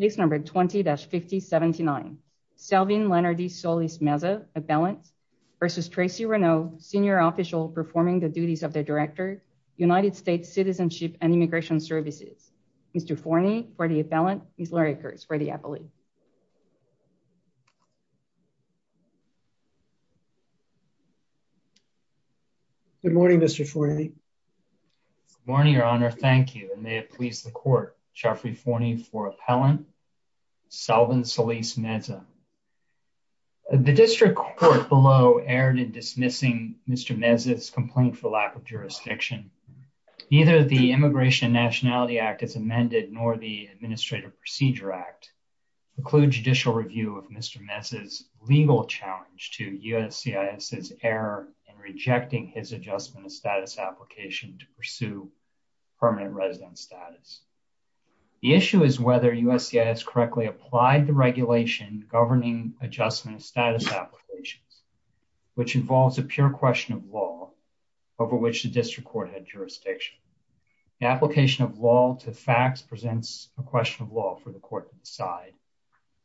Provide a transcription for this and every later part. case number 20-5079. Selvin Leonard Solis Meza, appellant, versus Tracy Renaud, senior official performing the duties of the Director, United States Citizenship and Immigration Services. Mr. Forney, for the appellant, Ms. Lori Kurtz, for the appellate. Good morning, Mr. Forney. Good morning, Your Honor. Thank you, and may it please the Court, Jeffrey Forney, for appellant, Selvin Solis Meza. The District Court below erred in dismissing Mr. Meza's complaint for lack of jurisdiction. Neither the Immigration and Nationality Act as amended nor the Administrative Procedure Act preclude judicial review of Mr. Meza's legal challenge to USCIS's error in rejecting his adjustment of status application to pursue permanent residence status. The issue is whether USCIS correctly applied the regulation governing adjustment status applications, which involves a pure question of law over which the District Court had jurisdiction. The application of law to facts presents a question of law for the Court to decide,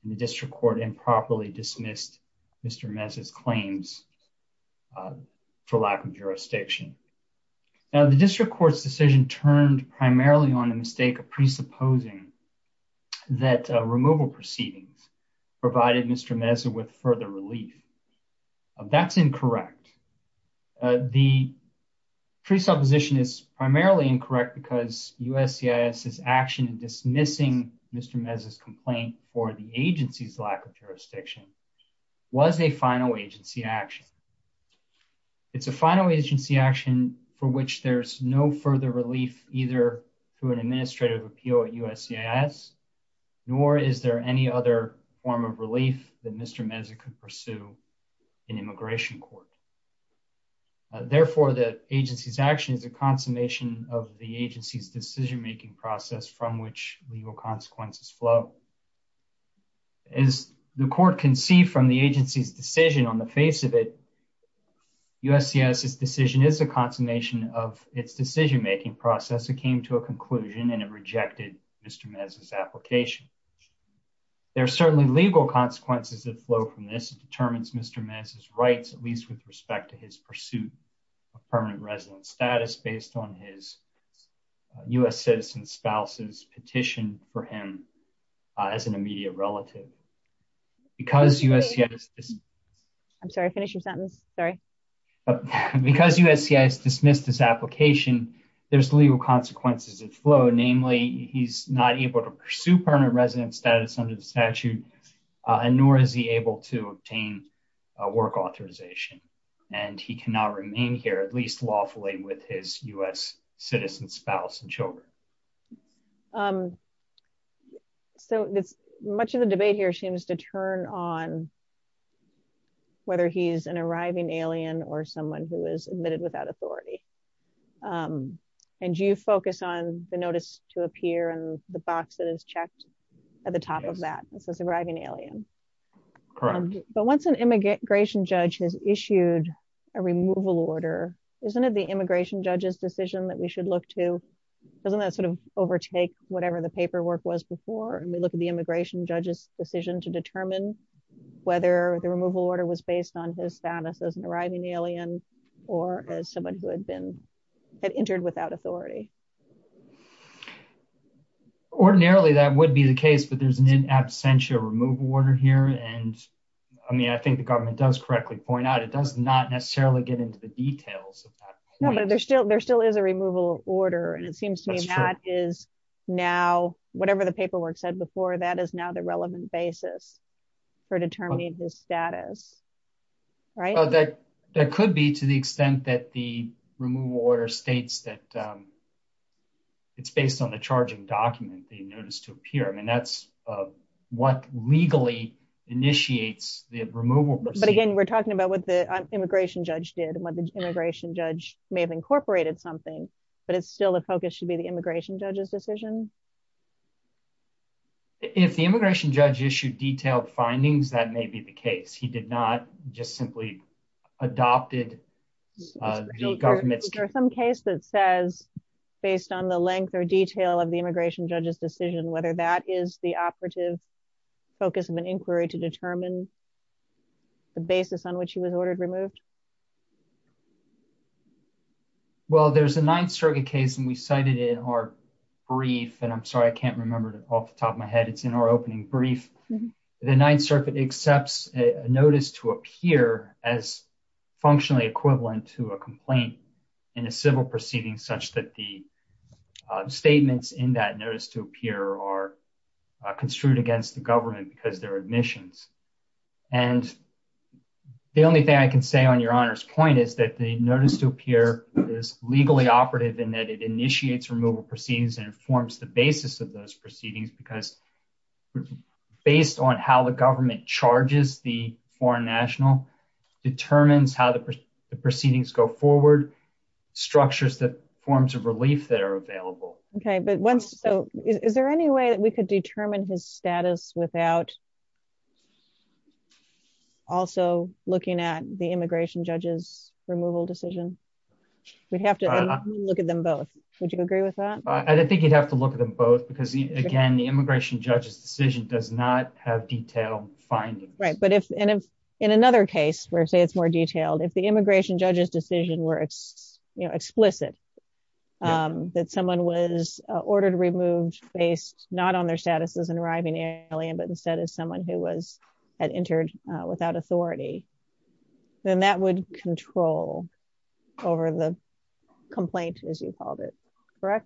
and the District Court improperly dismissed Mr. Meza's claims for lack of jurisdiction. Now, the District Court's decision turned primarily on a mistake of presupposing that removal proceedings provided Mr. Meza with further relief. That's incorrect. The presupposition is primarily incorrect because USCIS's action in dismissing Mr. Meza's complaint for the agency's lack of jurisdiction was a final agency action. It's a final agency action for which there's no further relief either through an administrative appeal at USCIS, nor is there any other form of relief that Mr. Meza could pursue in Immigration Court. Therefore, the agency's action is a consummation of the agency's decision-making process from which legal consequences flow. As the Court can see from the agency's decision on the face of it, USCIS's decision is a consummation of its decision-making process. It came to a conclusion and it rejected Mr. Meza's application. There are certainly legal consequences that flow from this. It determines Mr. Meza's rights, at least with respect to his pursuit of permanent resident status based on his U.S. citizen spouse's petition for him as an immediate relative. Because USCIS dismissed his application, there's legal consequences that flow. Namely, he's not able to pursue permanent resident status under the statute and nor is he able to obtain work authorization and he cannot remain here, at least lawfully, with his U.S. citizen spouse and children. So much of the debate here seems to turn on whether he's an arriving alien or someone who is admitted without authority. And you focus on the notice to appear and the box that is checked at the top of that, this is arriving alien. Correct. But once an immigration judge has issued a removal order, isn't it the immigration judge's decision that we should look to, doesn't that sort of overtake whatever the paperwork was before? And we look at the immigration judge's decision to determine whether the removal order was based on his status as an arriving alien or as someone who had entered without authority. Ordinarily, that would be the case, but there's an in absentia removal order here. And I mean, I think the government does correctly point out, it does not necessarily get into the details. There still is a removal order. And it seems to me that is now, whatever the paperwork said before, that is now the relevant basis for determining his status. Right. That could be to the extent that the removal order states that it's based on the charging document, the notice to appear. I mean, that's what legally initiates the removal. But again, we're talking about what the immigration judge did and what the immigration judge may have incorporated something, but it's still a focus should be the immigration judge's decision. If the immigration judge issued detailed findings, that may be the case. He did not just simply adopted the government's case that says, based on the length or detail of immigration judge's decision, whether that is the operative focus of an inquiry to determine the basis on which he was ordered removed. Well, there's a Ninth Circuit case, and we cited in our brief, and I'm sorry, I can't remember off the top of my head, it's in our opening brief. The Ninth Circuit accepts a notice to appear as functionally equivalent to a complaint in a civil proceeding such that the statements in that notice to appear are construed against the government because they're admissions. And the only thing I can say on Your Honor's point is that the notice to appear is legally operative in that it initiates removal proceedings and informs the basis of those proceedings because based on how the government charges the foreign national, determines how the proceedings go Okay, but is there any way that we could determine his status without also looking at the immigration judge's removal decision? We'd have to look at them both. Would you agree with that? I think you'd have to look at them both because again, the immigration judge's decision does not have detailed findings. Right, but if in another case where say it's more was ordered removed based not on their status as an arriving alien but instead as someone who was had entered without authority, then that would control over the complaint as you called it, correct?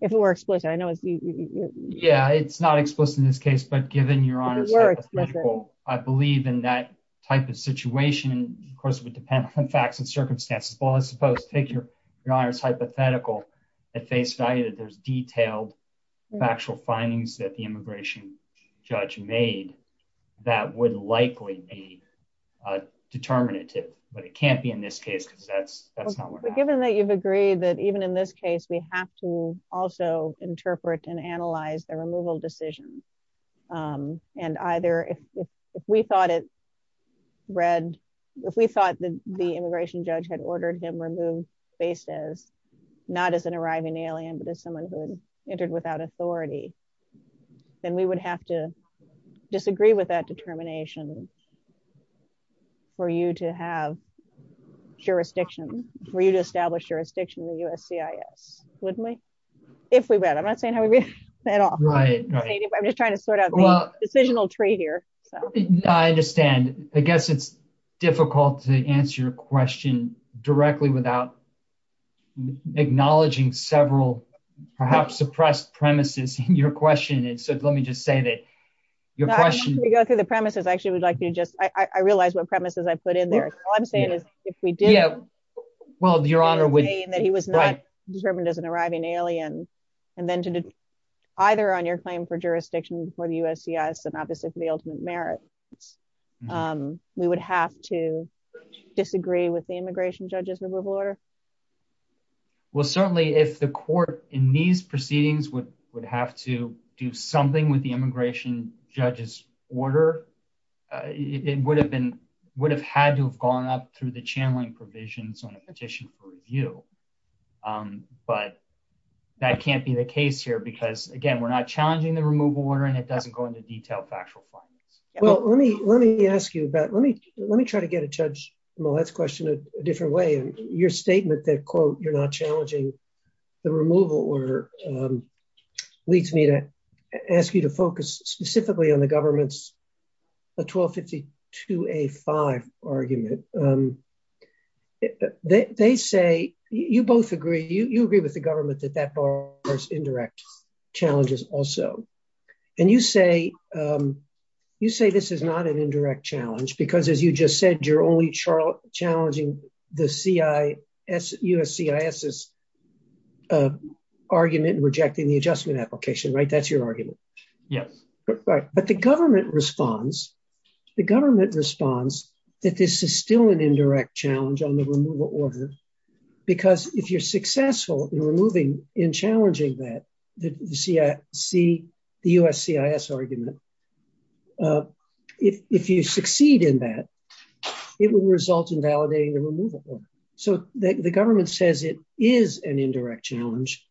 If it were explicit, I know it's... Yeah, it's not explicit in this case, but given Your Honor's hypothetical, I believe in that type of situation, of course it would depend on facts and face value that there's detailed factual findings that the immigration judge made that would likely be determinative, but it can't be in this case because that's not what... Given that you've agreed that even in this case, we have to also interpret and analyze the removal decision and either if we thought it read, if we thought that the immigration judge had ordered him removed based as not as an arriving alien but as someone who had entered without authority, then we would have to disagree with that determination for you to have jurisdiction, for you to establish jurisdiction in the USCIS, wouldn't we? If we read, I'm not saying how we read at all. Right, right. I'm just trying to sort out the decisional tree here. I understand. I guess it's difficult to answer your question directly without acknowledging several perhaps suppressed premises in your question. And so let me just say that your question... Before we go through the premises, I actually would like you to just... I realize what premises I put in there. All I'm saying is if we do... Yeah, well, Your Honor would... That he was not determined as an arriving alien and then to either on your claim for jurisdiction before the USCIS and obviously for the ultimate merit, we would have to disagree with the immigration judge's removal order. Well, certainly if the court in these proceedings would have to do something with the immigration judge's order, it would have been, would have had to have gone up through the channeling provisions on a petition for review. But that can't be the case here because again, we're not challenging the removal order and it doesn't go into detail factual findings. Well, let me ask you about... Let me try to get a Judge Millett's question a different way. Your statement that quote, you're not challenging the removal order leads me to ask you to focus specifically on the government's 1252A5 argument. They say, you both agree, you agree with the government that that requires indirect challenges also. And you say, you say this is not an indirect challenge because as you just said, you're only challenging the USCIS's argument rejecting the adjustment application, right? That's your argument. Yes. But the government responds, the government responds that this is still an indirect challenge on the removal order because if you're successful in challenging that, the USCIS argument, if you succeed in that, it will result in validating the removal order. So the government says it is an indirect challenge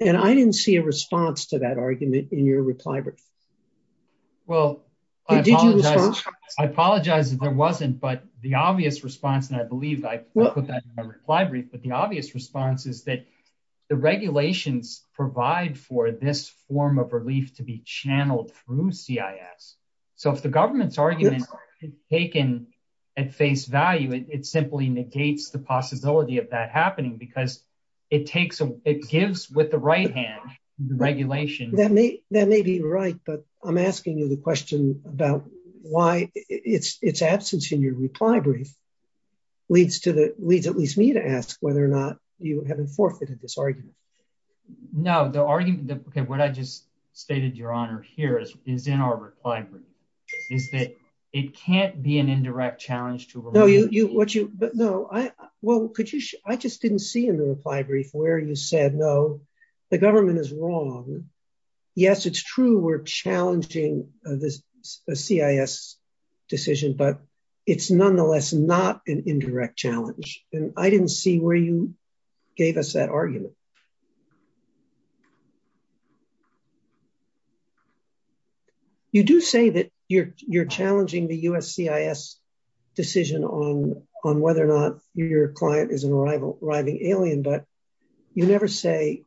and I didn't see a response to that argument in your reply brief. Well, I apologize if there wasn't, but the obvious response and I put that in my reply brief, but the obvious response is that the regulations provide for this form of relief to be channeled through CIS. So if the government's argument is taken at face value, it simply negates the possibility of that happening because it takes, it gives with the right hand the regulation. That may, that may be right, but I'm asking you the question about why its absence in your reply brief leads to the, leads at least me to ask whether or not you haven't forfeited this argument. No, the argument that, okay, what I just stated your honor here is in our reply brief is that it can't be an indirect challenge to remove. No, you, what you, but no, I, well, could you, I just didn't see in the reply brief where you said, no, the government is wrong. Yes, it's true. We're challenging this CIS decision, but it's nonetheless not an indirect challenge. And I didn't see where you gave us that argument. You do say that you're, you're challenging the USCIS decision on, on whether or not your client is an arriving alien, but you never say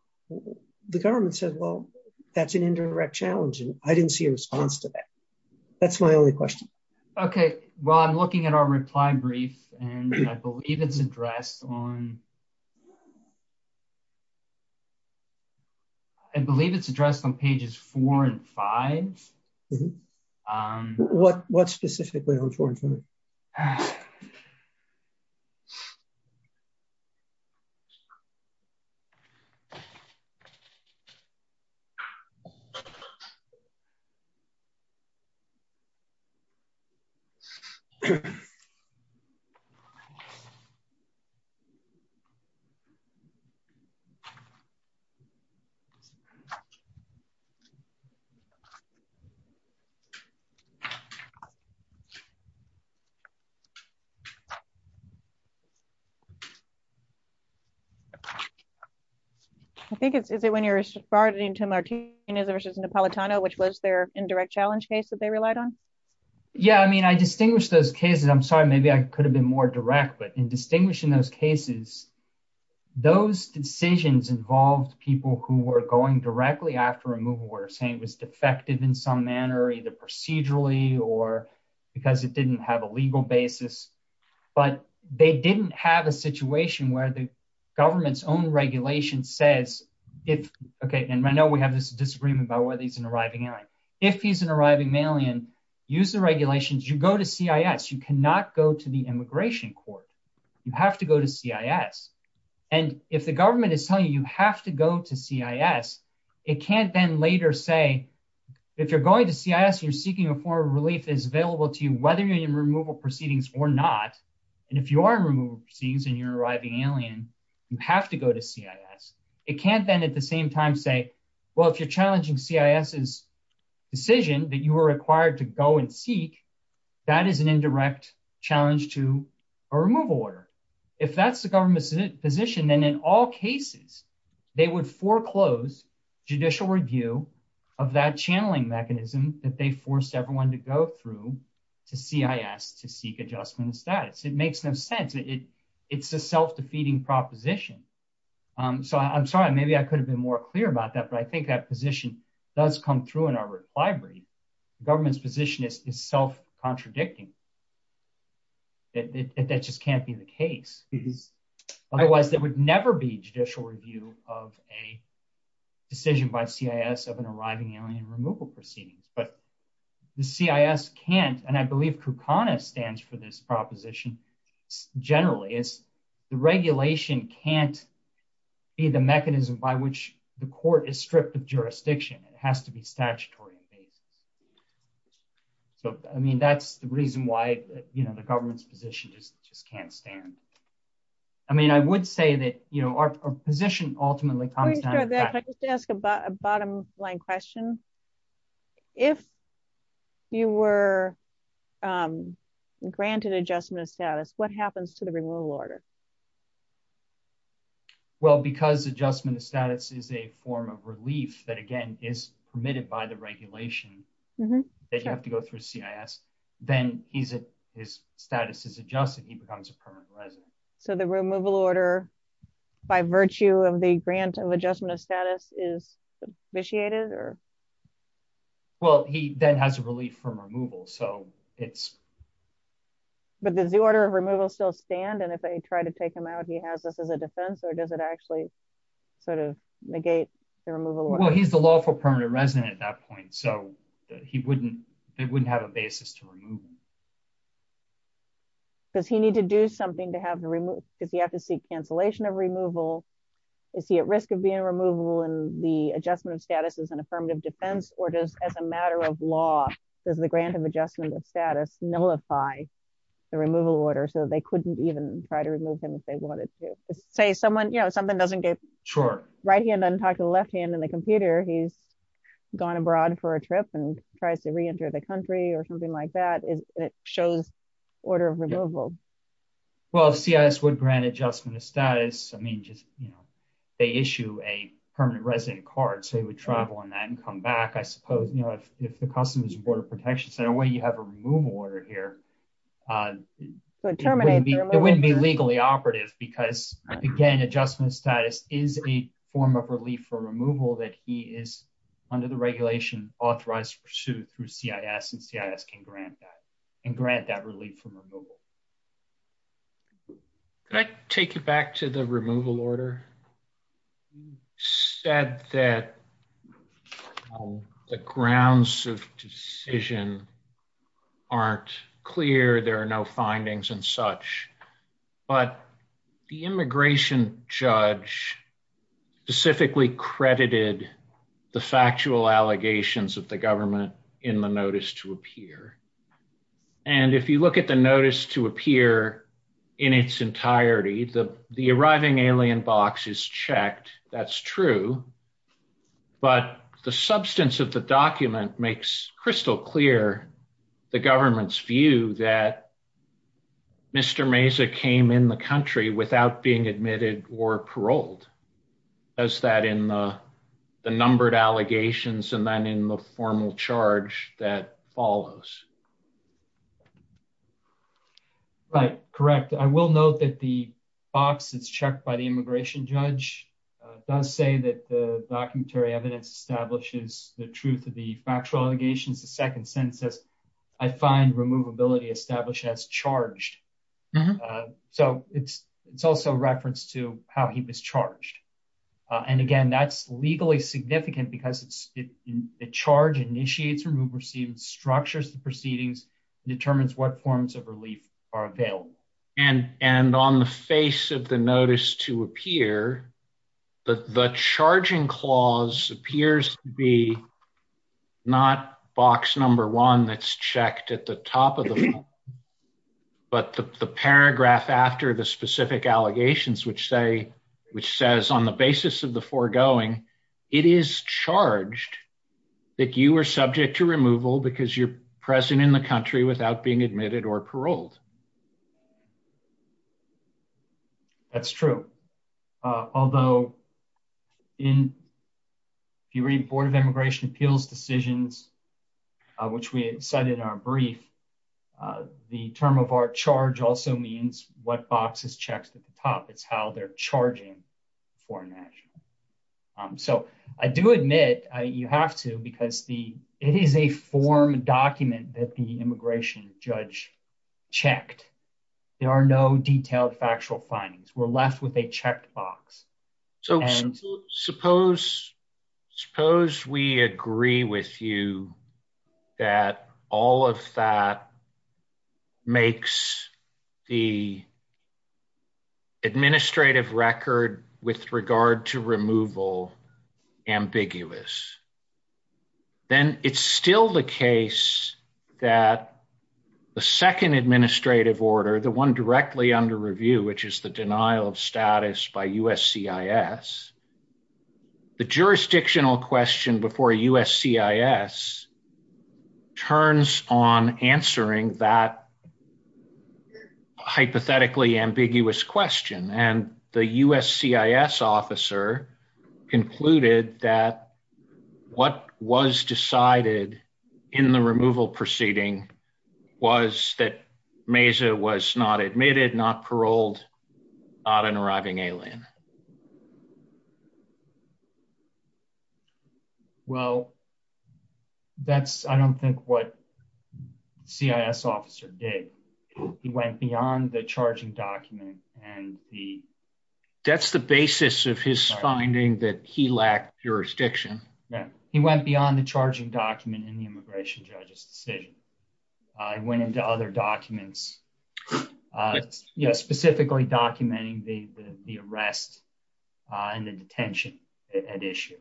the government said, well, that's an indirect challenge. And I didn't see a response to that. That's my only question. Okay. Well, I'm looking at our reply brief and I believe it's addressed on, I believe it's addressed on pages four and five. What, what specifically on four and five? Okay. I think it's, is it when you're starting to Martinez versus Napolitano, which was their indirect challenge case that they relied on? Yeah. I mean, I distinguish those cases. I'm sorry. Maybe I could have been more direct, but in distinguishing those cases, those decisions involved people who were going directly after removal were saying it was defective in some manner, either procedurally or because it didn't have a legal basis, but they didn't have a situation where the government's own regulation says, if, okay. And I know we have this disagreement about whether he's an arriving alien, if he's an arriving male and use the regulations, you go to CIS, you cannot go to the immigration court. You have to go to CIS. And if the government is telling you, you have to go to CIS, it can't then later say, if you're going to CIS, you're seeking a form of relief is available to whether you're in removal proceedings or not. And if you are removed scenes and you're arriving alien, you have to go to CIS. It can't then at the same time say, well, if you're challenging CIS is decision that you were required to go and seek, that is an indirect challenge to a removal order. If that's the government position, then in all cases, they would foreclose judicial review of that channeling mechanism that they forced everyone to go through to CIS, to seek adjustment status. It makes no sense. It's a self-defeating proposition. So I'm sorry, maybe I could have been more clear about that, but I think that position does come through in our library. The government's position is self-contradicting. That just can't be the case because otherwise that would never be judicial review of a decision by CIS of an arriving alien removal proceedings. But the CIS can't, and I believe KUKANA stands for this proposition generally, is the regulation can't be the mechanism by which the court is stripped of jurisdiction. It has to be statutory basis. So, I mean, that's the reason why the government's position just can't stand. I mean, I would say that our position ultimately I just want to ask a bottom line question. If you were granted adjustment of status, what happens to the removal order? Well, because adjustment of status is a form of relief that, again, is permitted by the regulation that you have to go through CIS, then his status is adjusted, he becomes a permanent resident. So the removal order by virtue of the grant of adjustment of status is vitiated? Well, he then has a relief from removal. But does the order of removal still stand? And if they try to take him out, he has this as a defense or does it actually sort of negate the removal? Well, he's the lawful permanent resident at that point. So he wouldn't have a basis to remove him. Does he need to do something to have to remove? Does he have to seek cancellation of removal? Is he at risk of being removable? And the adjustment of status is an affirmative defense? Or does as a matter of law, does the grant of adjustment of status nullify the removal order so they couldn't even try to remove him if they wanted to? Say someone, you know, something doesn't right hand doesn't talk to the left hand in the computer, he's gone abroad for a trip and tries to reenter the country or something like that. It shows order of removal. Well, CIS would grant adjustment of status. I mean, just, you know, they issue a permanent resident card. So he would travel on that and come back, I suppose, you know, if the Customs and Border Protection Center, where you have a removal order here, it wouldn't be legally operative because, again, adjustment of status is a form of relief for removal that he is, under the regulation, authorized to pursue through CIS and CIS can grant that and grant that relief from removal. Can I take you back to the removal order? You said that the grounds of decision aren't clear. There are no findings and such. But the immigration judge specifically credited the factual allegations of the government in the notice to appear. And if you look at the notice to appear in its entirety, the arriving alien box is checked. That's true. But the substance of the the government's view that Mr. Meza came in the country without being admitted or paroled, does that in the numbered allegations and then in the formal charge that follows? Right. Correct. I will note that the box is checked by the immigration judge. It does say that the documentary evidence establishes the truth of the factual allegations. The second sentence says, I find removability established as charged. So it's it's also a reference to how he was charged. And again, that's legally significant because it's a charge initiates removed, received structures, the proceedings determines what forms of relief are available. And and on the face of the notice to appear, the charging clause appears to be not box number one that's checked at the top of the. But the paragraph after the specific allegations, which say which says on the basis of the foregoing, it is charged that you are subject to removal because you're present in the country without being admitted or paroled. That's true, although in the Board of Immigration Appeals decisions, which we said in our brief, the term of our charge also means what box is checked at the top. It's how they're charging for an action. So I do admit you have to because the it is a form document that the immigration judge checked. There are no detailed factual findings. We're left with a checked box. So suppose suppose we agree with you that all of that makes the. Administrative record with regard to removal ambiguous. Then it's still the case that the second administrative order, the one directly under review, which is the denial of status by USCIS. The jurisdictional question before USCIS turns on answering that hypothetically ambiguous question and the USCIS officer concluded that what was decided in the removal proceeding was that Meza was not admitted, not paroled, not an arriving alien. Well, that's I don't think what CIS officer did. He went beyond the charging document and the. That's the basis of his finding that he lacked jurisdiction. He went beyond the charging document in the immigration judge's decision. I went into other documents specifically documenting the arrest and the detention at issue.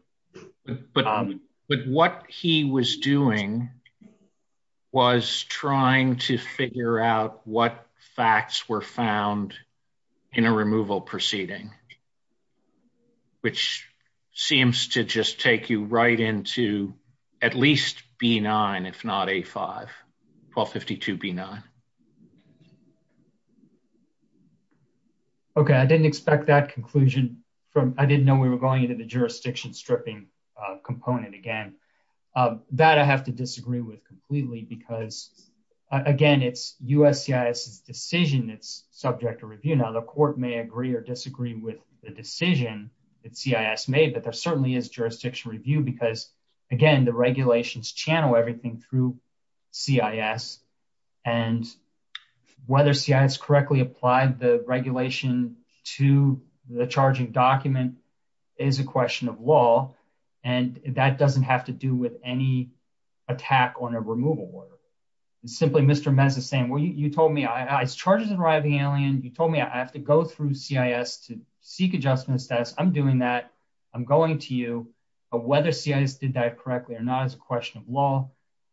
But what he was doing was trying to figure out what facts were found in a removal proceeding, which seems to just take you right into at least B-9, if not A-5, 1252 B-9. Okay. I didn't expect that conclusion from I didn't know we were going into the jurisdiction stripping component again. That I have to disagree with completely because again, it's USCIS's decision that's subject to review. Now, the court may agree or disagree with the decision that CIS made, but there certainly is jurisdiction review because again, the regulations channel everything through CIS and whether CIS correctly applied the regulation to the charging document is a question of law. And that doesn't have to do with any attack on a removal order. It's simply Mr. Meza saying, well, you told me it's charges arriving alien. You told me I have to go through CIS to seek adjustment status. I'm doing that. I'm going to you, but whether CIS did that correctly or not is a question of law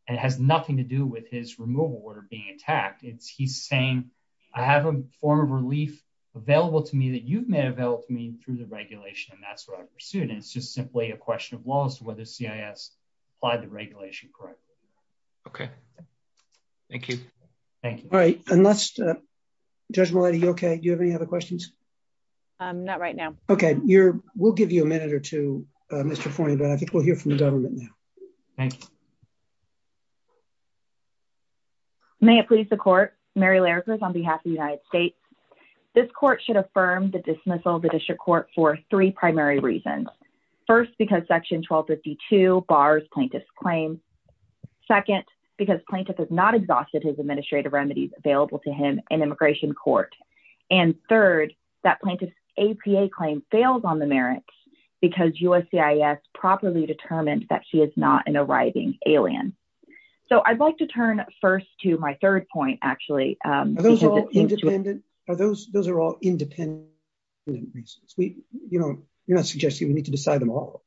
and has nothing to do with his removal order being attacked. It's he's saying, I have a form of relief available to me that you've made available to me through the regulation. And that's what I pursued. And it's just simply a question of laws to whether CIS applied the regulation correctly. Okay. Thank you. Thank you. All right. And that's a judgment. Are you okay? Do you have any other questions? I'm not right now. Okay. You're, we'll give you a minute or two, Mr. Point, but I think we'll hear from the government now. May it please the court. Mary Laird was on behalf of the United States. This court should affirm the dismissal of the district court for three primary reasons. First, because section 1252 bars plaintiff's claim. Second, because plaintiff has not exhausted his administrative remedies available to him in immigration court. And third, that plaintiff's APA claim fails on the merits because USCIS properly determined that she is not an arriving alien. So I'd like to turn first to my third point, actually. Are those, those are all independent reasons. We, you know, you're not suggesting we need to decide them all.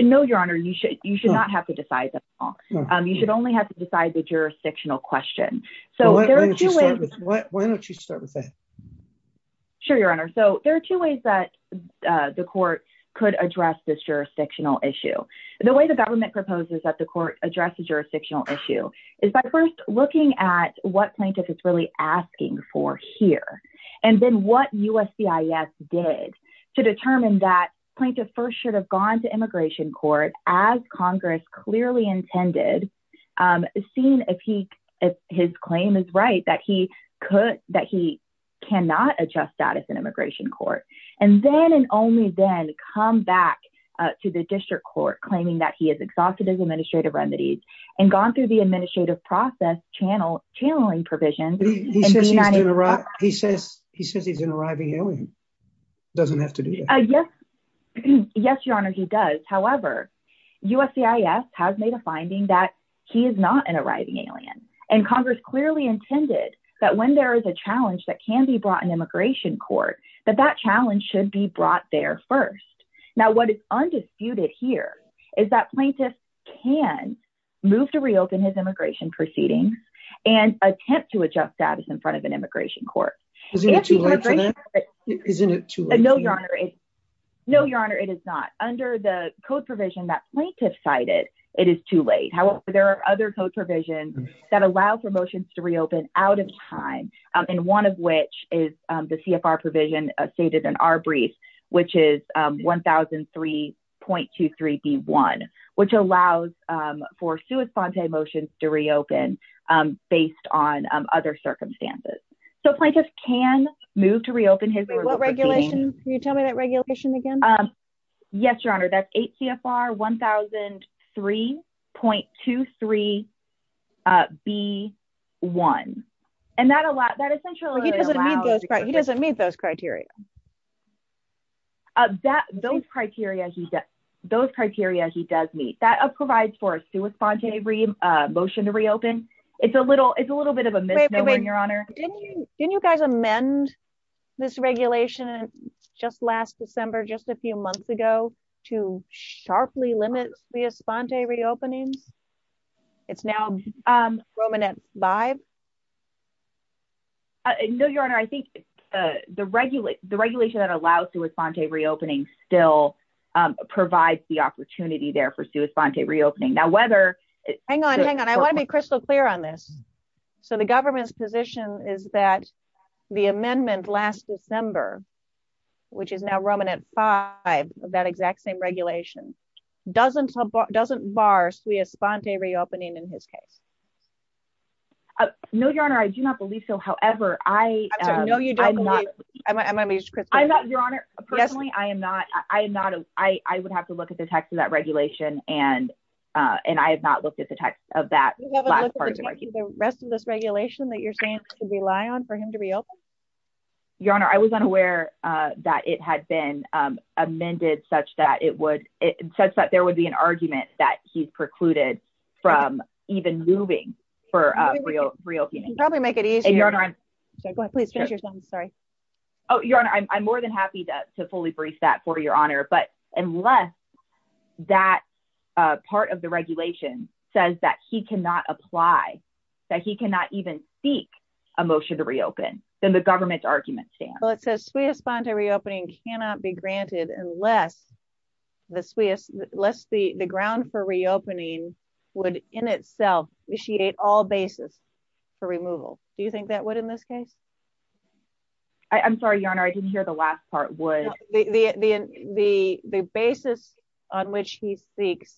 No, your honor, you should, you should not have to decide that. You should only have to decide the jurisdictional question. So why don't you start with that? Sure, your honor. So there are two ways that the court could address this jurisdictional issue. The way the government proposes that the court addresses jurisdictional issue is by first looking at what plaintiff is really asking for here. And then what USCIS did to determine that plaintiff first should have gone to immigration court as Congress clearly intended, seen if he, if his claim is right, that he could, that he cannot adjust status in immigration court. And then and only then come back to the district court claiming that he has exhausted his administrative remedies and gone through the administrative process channel, channeling provisions. He says, he says he's an arriving alien. Doesn't have to do that. Yes. Yes, your honor. He does. However, USCIS has made a finding that he is not an arriving alien and Congress clearly intended that when there is a challenge that can be brought in immigration court, that that challenge should be brought there first. Now, what is undisputed here is that plaintiff can move to reopen his immigration proceedings and attempt to adjust status in front of an immigration court. No, your honor. No, your honor. It is not under the code provision that plaintiff cited. It is too late. However, there are other code provisions that allow for motions to reopen out of time. And one of which is the CFR provision stated in our circumstances. So plaintiff can move to reopen his regulations. Can you tell me that regulation again? Yes, your honor. That's eight CFR one thousand three point two three. B one. And that a lot that essentially he doesn't need those. He doesn't meet those criteria. That those criteria, he's got those criteria. He does meet that provides for a motion to reopen. It's a little it's a little bit of a misnomer, your honor. Can you guys amend this regulation just last December, just a few months ago to sharply limit the espontaneous openings? It's now prominent by. No, your honor. I think the regular the regulation that allows to respond to reopening still provides the opportunity there for us to respond to reopening. Now, whether hang on, hang on. I want to be crystal clear on this. So the government's position is that the amendment last December, which is now Roman at five of that exact same regulation, doesn't doesn't bar we respond to reopening in his case. No, your honor. I do not believe so. However, I know you don't. I'm going to be your honor. Personally, I am not I am not I would have to look at the text of that regulation. And, and I have not looked at the text of that. Rest of this regulation that you're saying rely on for him to reopen? Your honor, I was unaware that it had been amended such that it would it says that there would be an argument that he's precluded from even moving for real reopening. Probably make it easier. Go ahead, please. Sorry. Oh, your honor, I'm more than happy to fully brief that for your honor. But unless that part of the regulation says that he cannot apply, that he cannot even seek a motion to reopen, then the government's argument stands. Well, it says we respond to reopening cannot be granted unless the sweetest less the ground for removal. Do you think that would in this case? I'm sorry, your honor, I didn't hear the last part would be the basis on which he seeks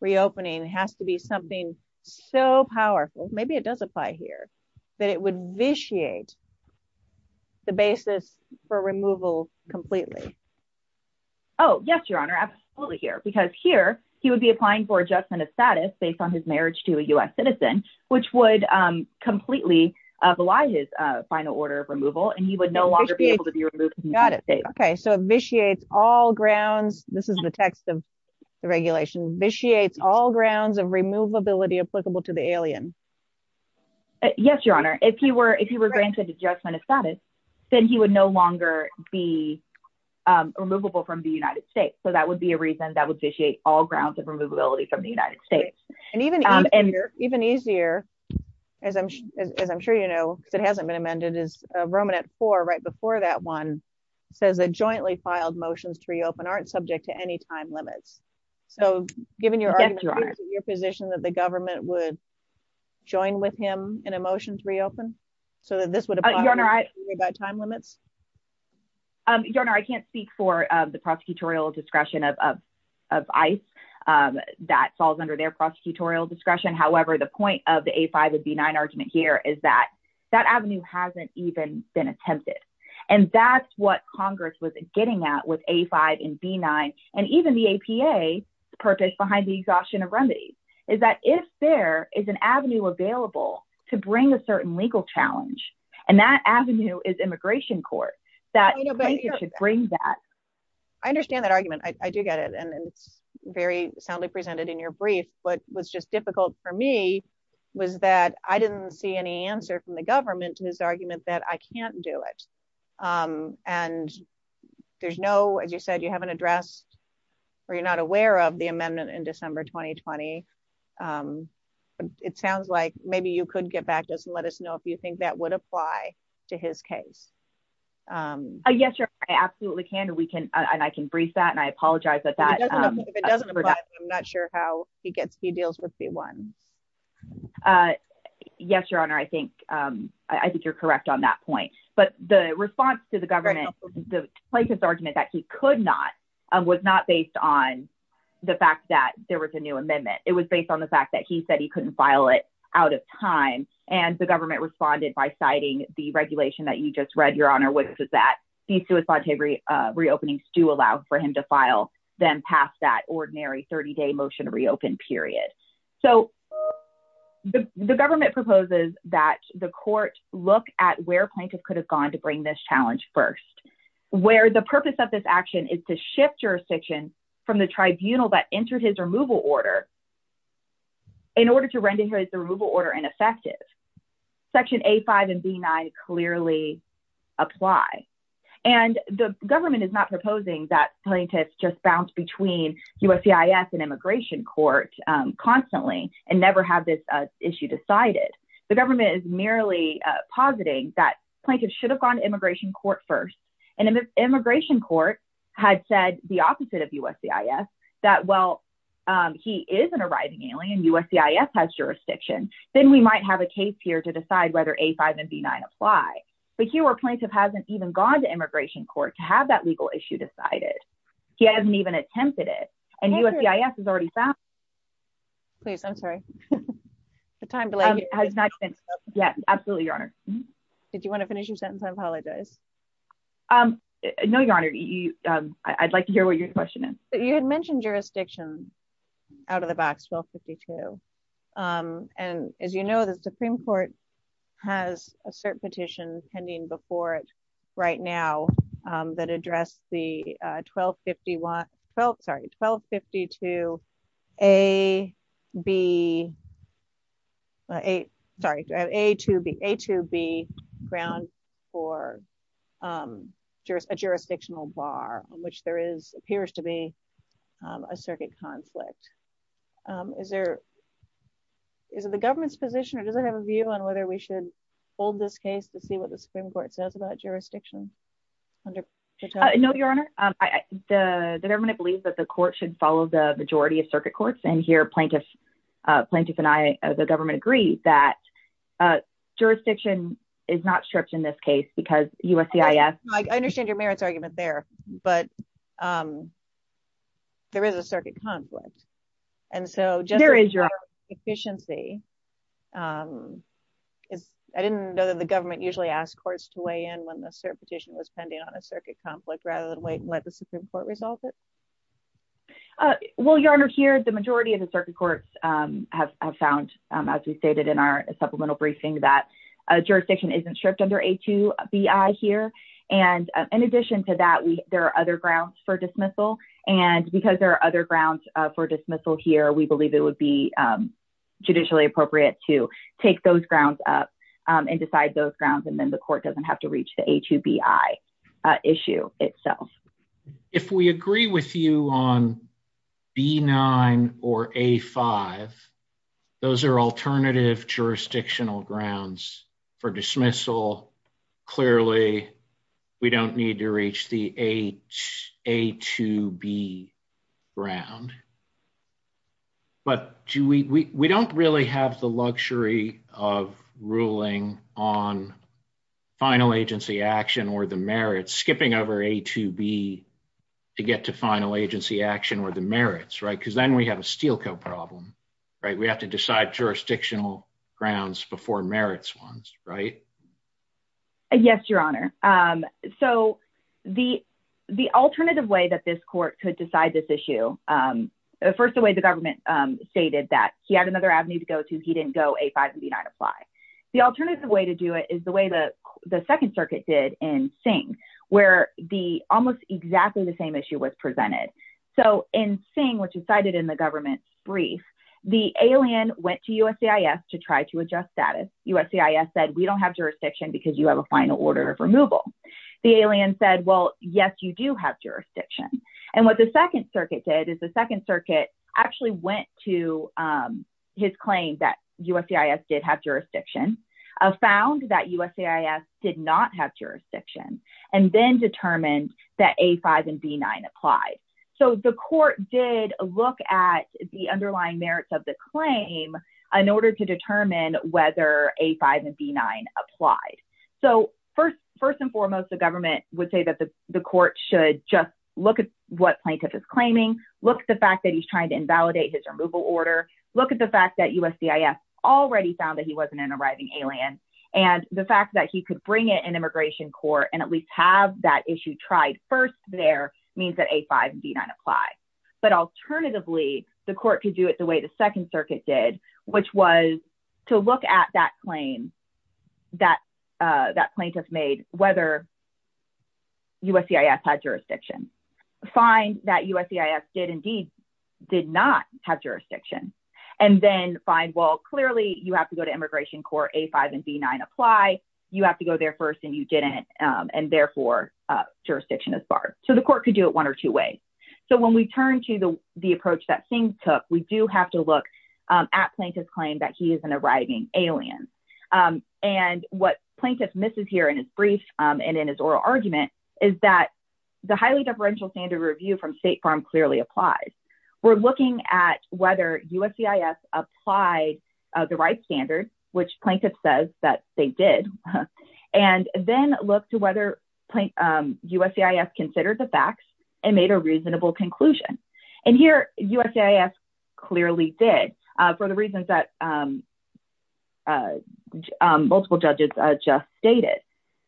reopening has to be something so powerful, maybe it does apply here, that it would vitiate the basis for removal completely. Oh, yes, your honor, absolutely here, because here, he would be applying for apply his final order of removal, and he would no longer be able to be removed. Got it. Okay, so vitiates all grounds. This is the text of the regulation vitiates all grounds of removability applicable to the alien. Yes, your honor, if you were if you were granted adjustment of status, then he would no longer be removable from the United States. So that would be a reason that would vitiate all grounds of removability from the United States. And even and even easier, as I'm, as I'm sure you know, it hasn't been amended is Roman at four right before that one, says a jointly filed motions to reopen aren't subject to any time limits. So given your argument, your position that the government would join with him in a motion to reopen, so that this would have been all right, we've got time limits. Your honor, I can't speak for the prosecutorial discretion of of ice that falls under their prosecutorial discretion. However, the point of the A five would be nine argument here is that that avenue hasn't even been attempted. And that's what Congress was getting out with a five and B nine, and even the APA purpose behind the exhaustion of remedies is that if there is an avenue available to bring a certain legal challenge, and that avenue is immigration court, that you know, bring that I understand that argument, I do get it. And it's very soundly presented in your brief, but was just difficult for me was that I didn't see any answer from the government to his argument that I can't do it. And there's no, as you said, you haven't addressed, or you're not aware of the amendment in December 2020. It sounds like maybe you could get back to us and let us know if you think that would apply to his case. Yes, you're absolutely can we can, and I can breathe that and I apologize that that I'm not sure how he gets he deals with the ones. Yes, Your Honor, I think I think you're correct on that point. But the response to the government, the plaintiff's argument that he could not, was not based on the fact that there was a new amendment, it was based on the fact that he said he couldn't file it out of time. And the government responded by citing the regulation that you just read, Your Honor, which is that the suicide reopenings do allow for him to file them past that ordinary 30 day motion to reopen period. So, the government proposes that the court, look at where plaintiff could have gone to bring this challenge first, where the purpose of this action is to shift jurisdiction from the tribunal that entered his removal order. In order to render his removal order ineffective. Section A five and B clearly apply. And the government is not proposing that plaintiffs just bounce between USCIS and immigration court constantly and never have this issue decided. The government is merely positing that plaintiffs should have gone to immigration court first. And immigration court had said the opposite of USCIS that well, he is an arriving alien USCIS has jurisdiction, then we might have a case here to decide whether A five and B nine apply. But here our plaintiff hasn't even gone to immigration court to have that legal issue decided. He hasn't even attempted it. And USCIS is already found. Please, I'm sorry. The time has not yet. Absolutely, Your Honor. Did you want to finish your sentence? I apologize. No, Your Honor. I'd like to hear what your question is. You had mentioned jurisdiction out of the box 1252. And as you know, the Supreme Court has a cert petition pending before it right now, that address the 1251 12, sorry, 1252. A, B, a circuit conflict. Is there? Is it the government's position? Or does it have a view on whether we should hold this case to see what the Supreme Court says about jurisdiction? No, Your Honor. The government believes that the court should follow the majority of circuit courts. And here plaintiff, plaintiff and I, the government agree that jurisdiction is not stripped in this case, because USCIS I understand your merits argument there. But there is a circuit conflict. And so there is your efficiency is I didn't know that the government usually asked courts to weigh in when the cert petition was pending on a circuit conflict rather than wait and let the Supreme Court resolve it. Well, Your Honor, here, the majority of the circuit courts have found, as we stated in our supplemental briefing that jurisdiction isn't under a to be I here. And in addition to that, we there are other grounds for dismissal. And because there are other grounds for dismissal here, we believe it would be judicially appropriate to take those grounds up and decide those grounds. And then the court doesn't have to reach the a to b I issue itself. If we agree with you on B nine, or a five, those are alternative jurisdictional grounds for dismissal. Clearly, we don't need to reach the a to b ground. But we don't really have the luxury of ruling on final agency action or the merits skipping over a to b to get to final agency action or the merits, right? Because then we have a we have to decide jurisdictional grounds before merits ones, right? Yes, Your Honor. So the, the alternative way that this court could decide this issue, first of all, the government stated that he had another avenue to go to, he didn't go a five and b nine apply. The alternative way to do it is the way that the Second Circuit did in Singh, where the almost exactly the same issue was presented. So in saying what you cited in the brief, the alien went to USCIS to try to adjust status, USCIS said we don't have jurisdiction because you have a final order of removal. The alien said, well, yes, you do have jurisdiction. And what the Second Circuit did is the Second Circuit actually went to his claim that USCIS did have jurisdiction, found that USCIS did not have jurisdiction, and then determined that a five and b nine applied. So the court did look at the underlying merits of the claim in order to determine whether a five and b nine applied. So first, first and foremost, the government would say that the court should just look at what plaintiff is claiming, look at the fact that he's trying to invalidate his removal order, look at the fact that USCIS already found that he wasn't an arriving alien. And the fact that he could bring it in immigration court and at least have that issue tried first there means that a five and b nine apply. But alternatively, the court could do it the way the Second Circuit did, which was to look at that claim, that that plaintiff made whether USCIS had jurisdiction, find that USCIS did indeed, did not have jurisdiction, and then find well, clearly, you have to go to immigration court a five and b nine apply, you have to go there first, and you didn't, and therefore, jurisdiction is barred. So the court could do it one or two ways. So when we turn to the the approach that Singh took, we do have to look at plaintiff's claim that he is an arriving alien. And what plaintiff misses here in his brief, and in his oral argument, is that the highly deferential standard review from State Farm clearly applies. We're looking at whether USCIS applied the right standard, which plaintiff says that they did, and then look to whether USCIS considered the facts and made a reasonable conclusion. And here USCIS clearly did, for the reasons that multiple judges just stated.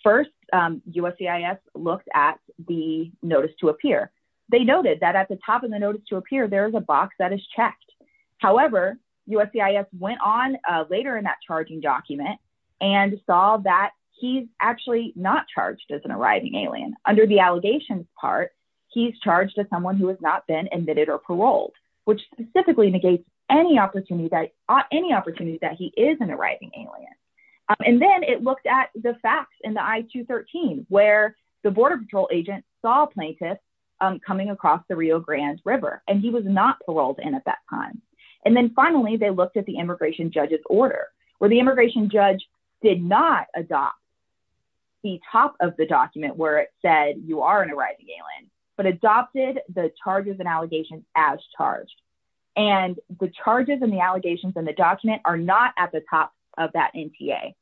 First, USCIS looked at the notice to appear. They noted that at the top of the notice to appear, there is a box that is checked. However, USCIS went on later in that charging document and saw that he's actually not charged as an arriving alien. Under the allegations part, he's charged as someone who has not been admitted or paroled, which specifically negates any opportunity that any opportunity that he is an arriving alien. And then it looked at the facts in the I-213, where the border patrol agent saw plaintiff coming across the Rio Grande River, and he was not paroled in at that time. And then finally, they looked at the immigration judge's order, where the immigration judge did not adopt the top of the document where it said you are an arriving alien, but adopted the charges and allegations as charged. And the charges and the allegations in the document are not at the top of that NTA.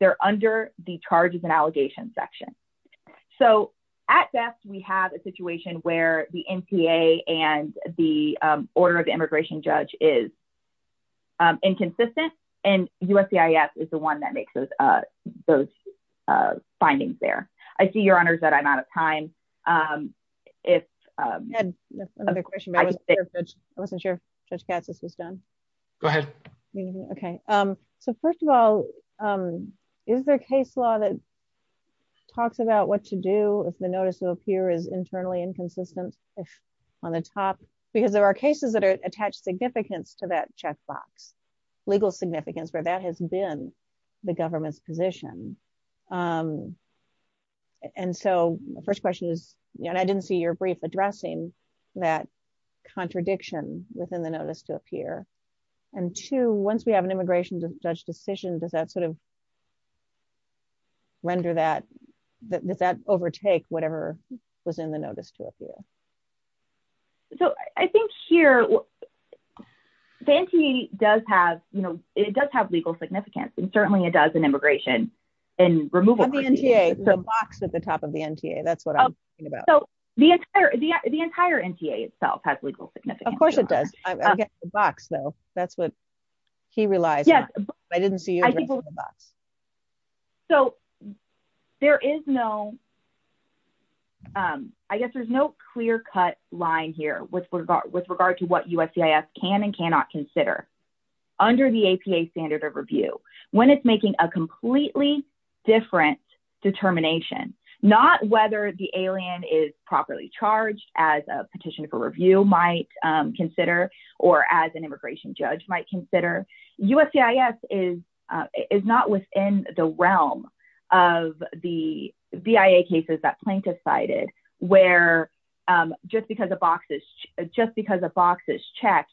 They're under the charges and allegations section. So at best, we have a situation where the NTA and the order of the immigration judge is inconsistent, and USCIS is the one that makes those findings there. I see, Your Honors, that I'm out of time. I had another question, but I wasn't sure if Judge Katsas was done. Go ahead. Okay. So first of all, is there case law that talks about what to do if the notice of a peer is internally inconsistent on the top? Because there are cases that are attached significance to that check box, legal significance, where that has been the government's position. And so the first question is, and I didn't see your brief addressing that contradiction within the notice to a peer. And two, once we have an immigration judge decision, does that sort of render that, does that overtake whatever was in the notice to a peer? So I think here, the NTA does have, you know, it does have legal significance, and certainly it does in immigration and removal. The NTA, the box at the top of the NTA, that's what I'm talking about. So the entire NTA itself has legal significance. Of course it does. I get the box though. That's what he relies on. I didn't see you address the box. So there is no, I guess there's no clear-cut line here with regard to what USCIS can and it's making a completely different determination. Not whether the alien is properly charged, as a petition for review might consider, or as an immigration judge might consider. USCIS is not within the realm of the BIA cases that plaintiffs cited, where just because a box is, just because a box is checked,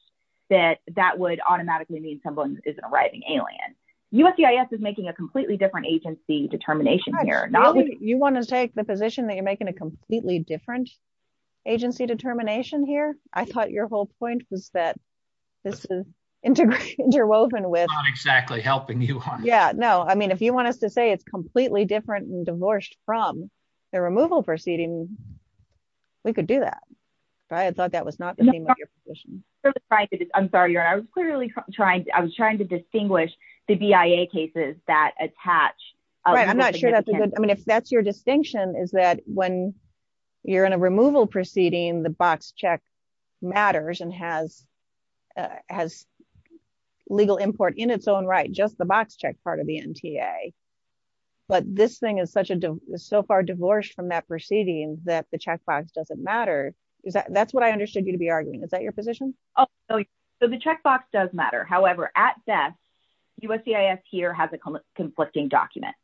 that that would automatically mean someone is an arriving alien. USCIS is making a completely different agency determination here. You want to take the position that you're making a completely different agency determination here? I thought your whole point was that this is interwoven with... I'm not exactly helping you on that. Yeah, no. I mean, if you want us to say it's completely different and divorced from the removal proceeding, we could do that. But I thought that was not the theme of your position. I'm sorry. I was clearly trying to distinguish the BIA cases that attach. I'm not sure that's a good... I mean, if that's your distinction is that when you're in a removal proceeding, the box check matters and has legal import in its own right, just the box check part of the MTA. But this thing is so far divorced from that proceeding that the checkbox doesn't matter. That's what I understood you to be arguing. Is that your position? Oh, so the checkbox does matter. However, at best, USCIS here has a conflicting document.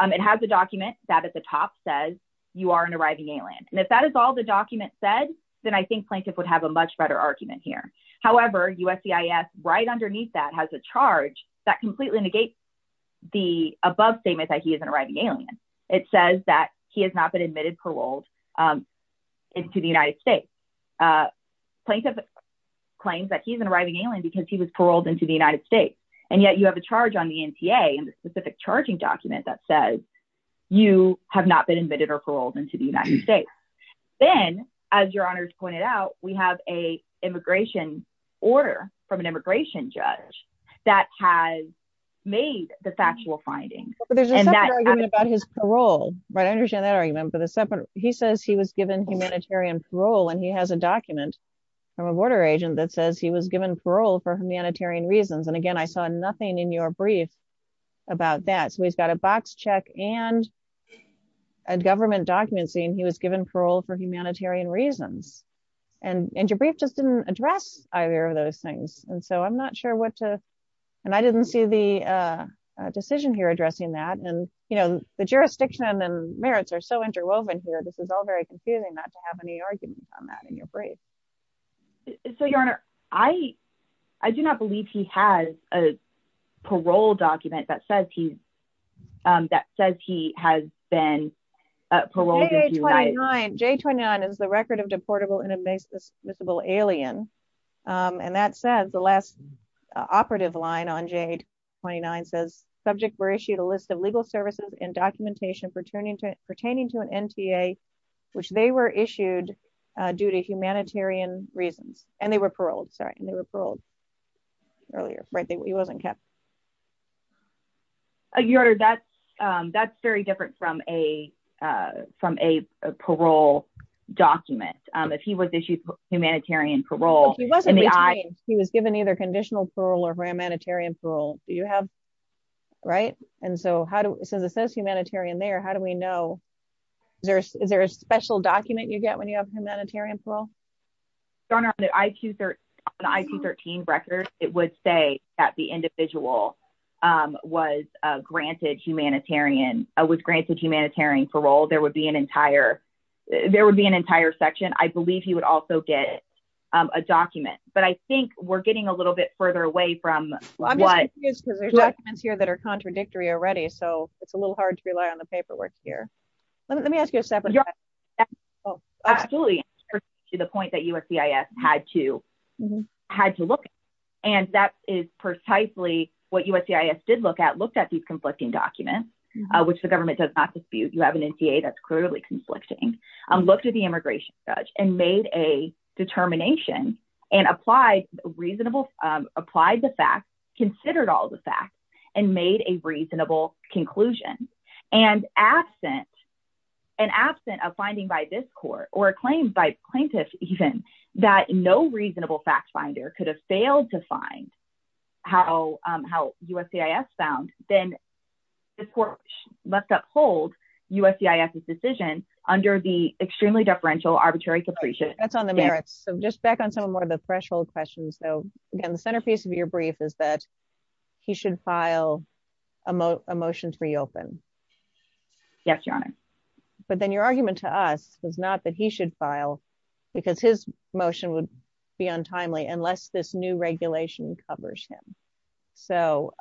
It has a document that at the top says you are an arriving alien. And if that is all the document said, then I think plaintiff would have a much better argument here. However, USCIS right underneath that has a charge that completely negates the above statement that he is an arriving alien. It says that he has not been admitted, paroled into the United States. Plaintiff claims that he's an arriving alien because he was paroled into the United States. And yet you have a charge on the MTA and the specific charging document that says you have not been admitted or paroled into the United States. Then as your honors pointed out, we have a immigration order from immigration judge that has made the factual findings. But there's an argument about his parole, right? I understand that argument, but he says he was given humanitarian parole and he has a document from a border agent that says he was given parole for humanitarian reasons. And again, I saw nothing in your brief about that. So he's got a box check and a government document saying he was given parole for humanitarian reasons. And your brief just didn't address either of those things. And so I'm not sure what to, and I didn't see the decision here addressing that. And the jurisdiction and merits are so interwoven here. This is all very confusing not to have any arguments on that in your brief. So your honor, I do not believe he has a parole document that says he has been paroled into the United States. J29 is the record of deportable inadmissible alien. And that says the last operative line on Jade 29 says subject were issued a list of legal services and documentation pertaining to an NTA, which they were issued due to humanitarian reasons. And they were paroled, sorry. And they were paroled earlier, right? He wasn't kept. Oh, your honor, that's, that's very different from a, from a parole document. If he was issued humanitarian parole, he was given either conditional parole or humanitarian parole. Do you have, right? And so how do, since it says humanitarian there, how do we know, there's, is there a special document you get when you have humanitarian parole? Your honor, on the IQ 13 record, it would say that the individual was granted humanitarian, was granted humanitarian parole. There would be an entire, there would be an entire section. I believe he would also get a document, but I think we're getting a little bit further away from what. I'm just confused because there's documents here that are contradictory already. So it's a little hard to rely on the paperwork here. Let me ask you a separate question. Absolutely. To the point that USCIS had to, had to look at. And that is precisely what USCIS did look at, looked at these conflicting documents, which the government does not dispute. You have an NCA that's clearly conflicting. Looked at the immigration judge and made a determination and applied reasonable, applied the facts, considered all the facts and made a reasonable conclusion. And absent, and absent of finding by this court or a claim by plaintiff, even that no reasonable fact finder could have failed to find how, how USCIS found, then the court must uphold USCIS's decision under the extremely deferential arbitrary capricious. That's on the merits. So just back on some of more of the threshold questions though, again, the centerpiece of your brief is that he should file a motion to reopen. Yes, your honor. But then your argument to us was not that he should file because his motion would be untimely unless this new regulation covers him. So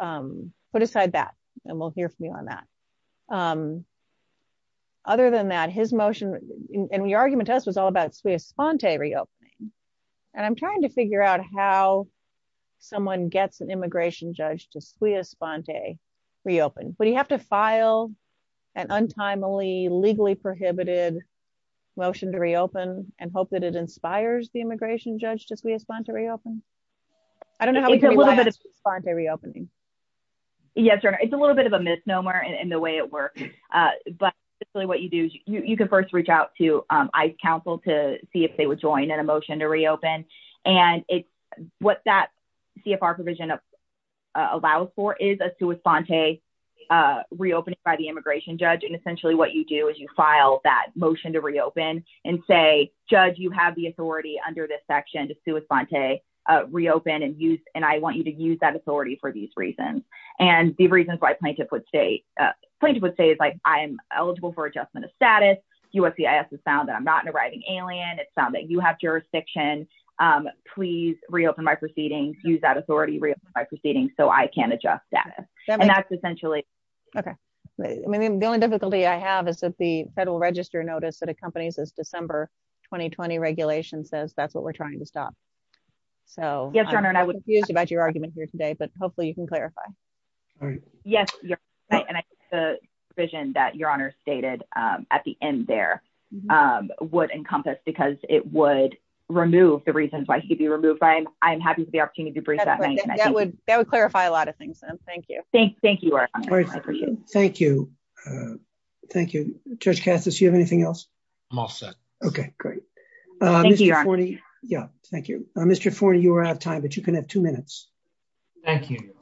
put aside that and we'll hear from you on that. Other than that, his motion and the argument to us was all about sui sponte reopening. And I'm trying to figure out how someone gets an immigration judge to sui a sponte reopen, but you have to file an untimely legally prohibited motion to reopen and hope that it inspires the immigration judge to sui a sponte reopen. I don't know. It's a little bit of sponte reopening. Yes, your honor. It's a little bit of a misnomer in the way it works. But you can first reach out to ICE counsel to see if they would join in a motion to reopen. And what that CFR provision allows for is a sui sponte reopening by the immigration judge. And essentially what you do is you file that motion to reopen and say, judge, you have the authority under this section to sui a sponte reopen and I want you to use that authority for these reasons. And the reasons why plaintiff would say, plaintiff would say is like, I'm eligible for adjustment of status. USCIS has found that I'm not an arriving alien. It's found that you have jurisdiction. Please reopen my proceedings, use that authority, reopen my proceedings so I can adjust that. And that's essentially. Okay. I mean, the only difficulty I have is that the federal register notice that accompanies this December 2020 regulation says that's what we're trying to stop. So I'm confused about your argument here today, but hopefully you can clarify. Yes, you're right. And I think the provision that your honor stated at the end there would encompass because it would remove the reasons why he could be removed. I'm happy for the opportunity to bring that up. That would clarify a lot of things. Thank you. Thank you. Thank you. Thank you. Judge Cassius, you have anything else? I'm all set. Okay, great. Thank you. Yeah, thank you. Mr. Forney, you are out of time, but you can have two minutes. Thank you.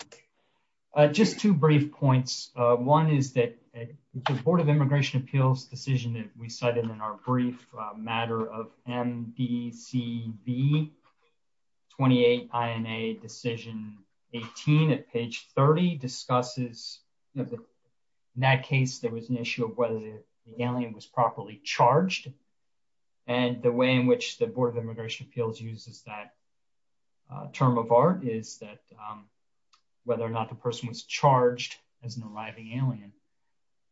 Just two brief points. One is that the Board of Immigration Appeals decision that we cited in our brief matter of MDCB 28 INA decision 18 at page 30 discusses in that case, there was an issue of whether the alien was properly charged. And the way in which the Board of Immigration Appeals uses that term of art is that whether or not the person was charged as an arriving alien.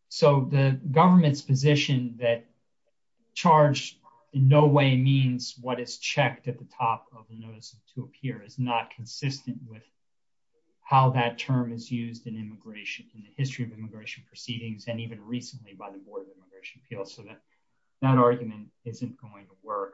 So the government's position that charge in no way means what is checked at the top of the notice to appear is not consistent with how that term is used in immigration, in the history of immigration proceedings, and even recently by the Board of Immigration Appeals. So that argument isn't going to work.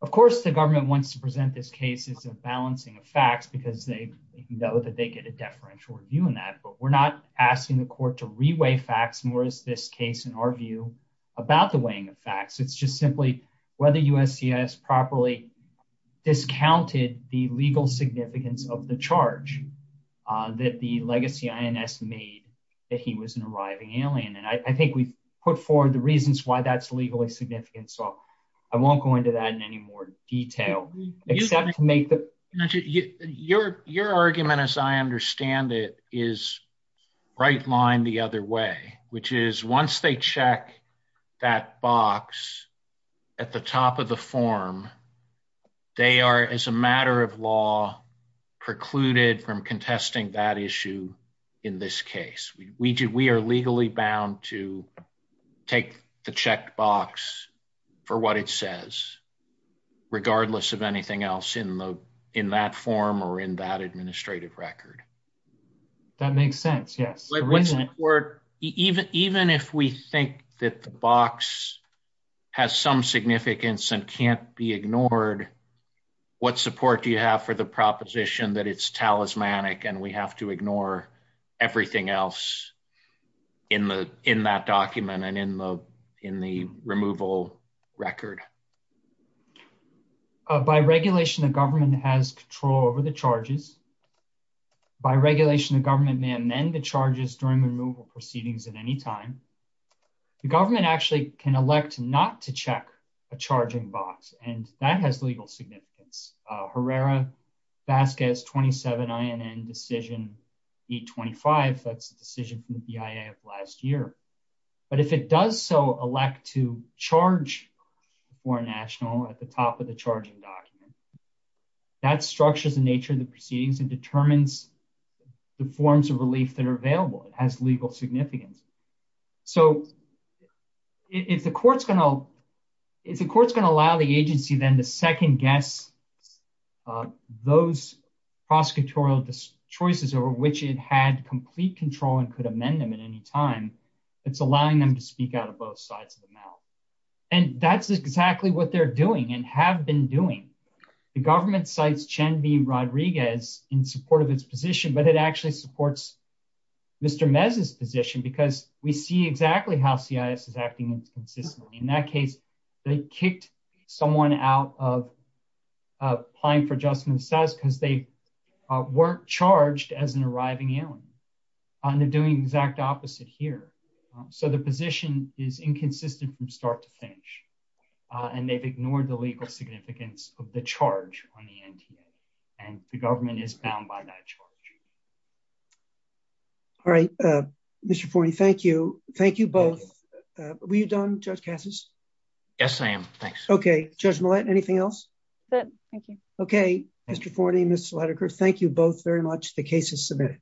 Of course, the government wants to present this case as a balancing of facts, because they know that they get a deferential review on that. But we're not asking the court to reweigh facts, nor is this case, in our view, about the weighing of facts. It's just simply whether USCIS properly discounted the legal significance of the charge that the legacy INS made that he was an arriving alien. And I think we've put forward the reasons why that's legally significant. So I won't go into that in any more detail. Your argument, as I understand it, is right line the other way, which is once they check that box at the top of the form, they are, as a matter of law, precluded from contesting that issue in this case. We are legally bound to take the checked box for what it says, regardless of anything else in that form or in that administrative record. That makes sense, yes. Even if we think that the box has some significance and can't be ignored, what support do you have for the proposition that it's everything else in that document and in the removal record? By regulation, the government has control over the charges. By regulation, the government may amend the charges during the removal proceedings at any time. The government actually can elect not to check a charging box, and that has legal significance. Herrera-Vasquez 27 INN decision 825, that's the decision from the BIA of last year. But if it does so elect to charge a foreign national at the top of the charging document, that structures the nature of the proceedings and determines the forms of relief that are available. It has legal significance. So if the court's going to allow the agency then to second-guess those prosecutorial choices over which it had complete control and could amend them at any time, it's allowing them to speak out of both sides of the mouth. That's exactly what they're doing and have been doing. The government cites Chen V. Rodriguez in support of its position, but it actually supports Mr. Mez's position because we see exactly how CIS is acting inconsistently. In that case, they kicked someone out of applying for adjustment of status because they weren't charged as an arriving alien, and they're doing the exact opposite here. So the position is inconsistent from start to finish, and they've ignored the legal significance of the charge on the NTA, and the government is bound by that charge. All right. Mr. Forney, thank you. Thank you both. Were you done, Judge Cassis? Yes, I am. Thanks. Okay. Judge Millett, anything else? Good. Thank you. Okay. Mr. Forney, Ms. Sledeker, thank you both very much. The case is submitted.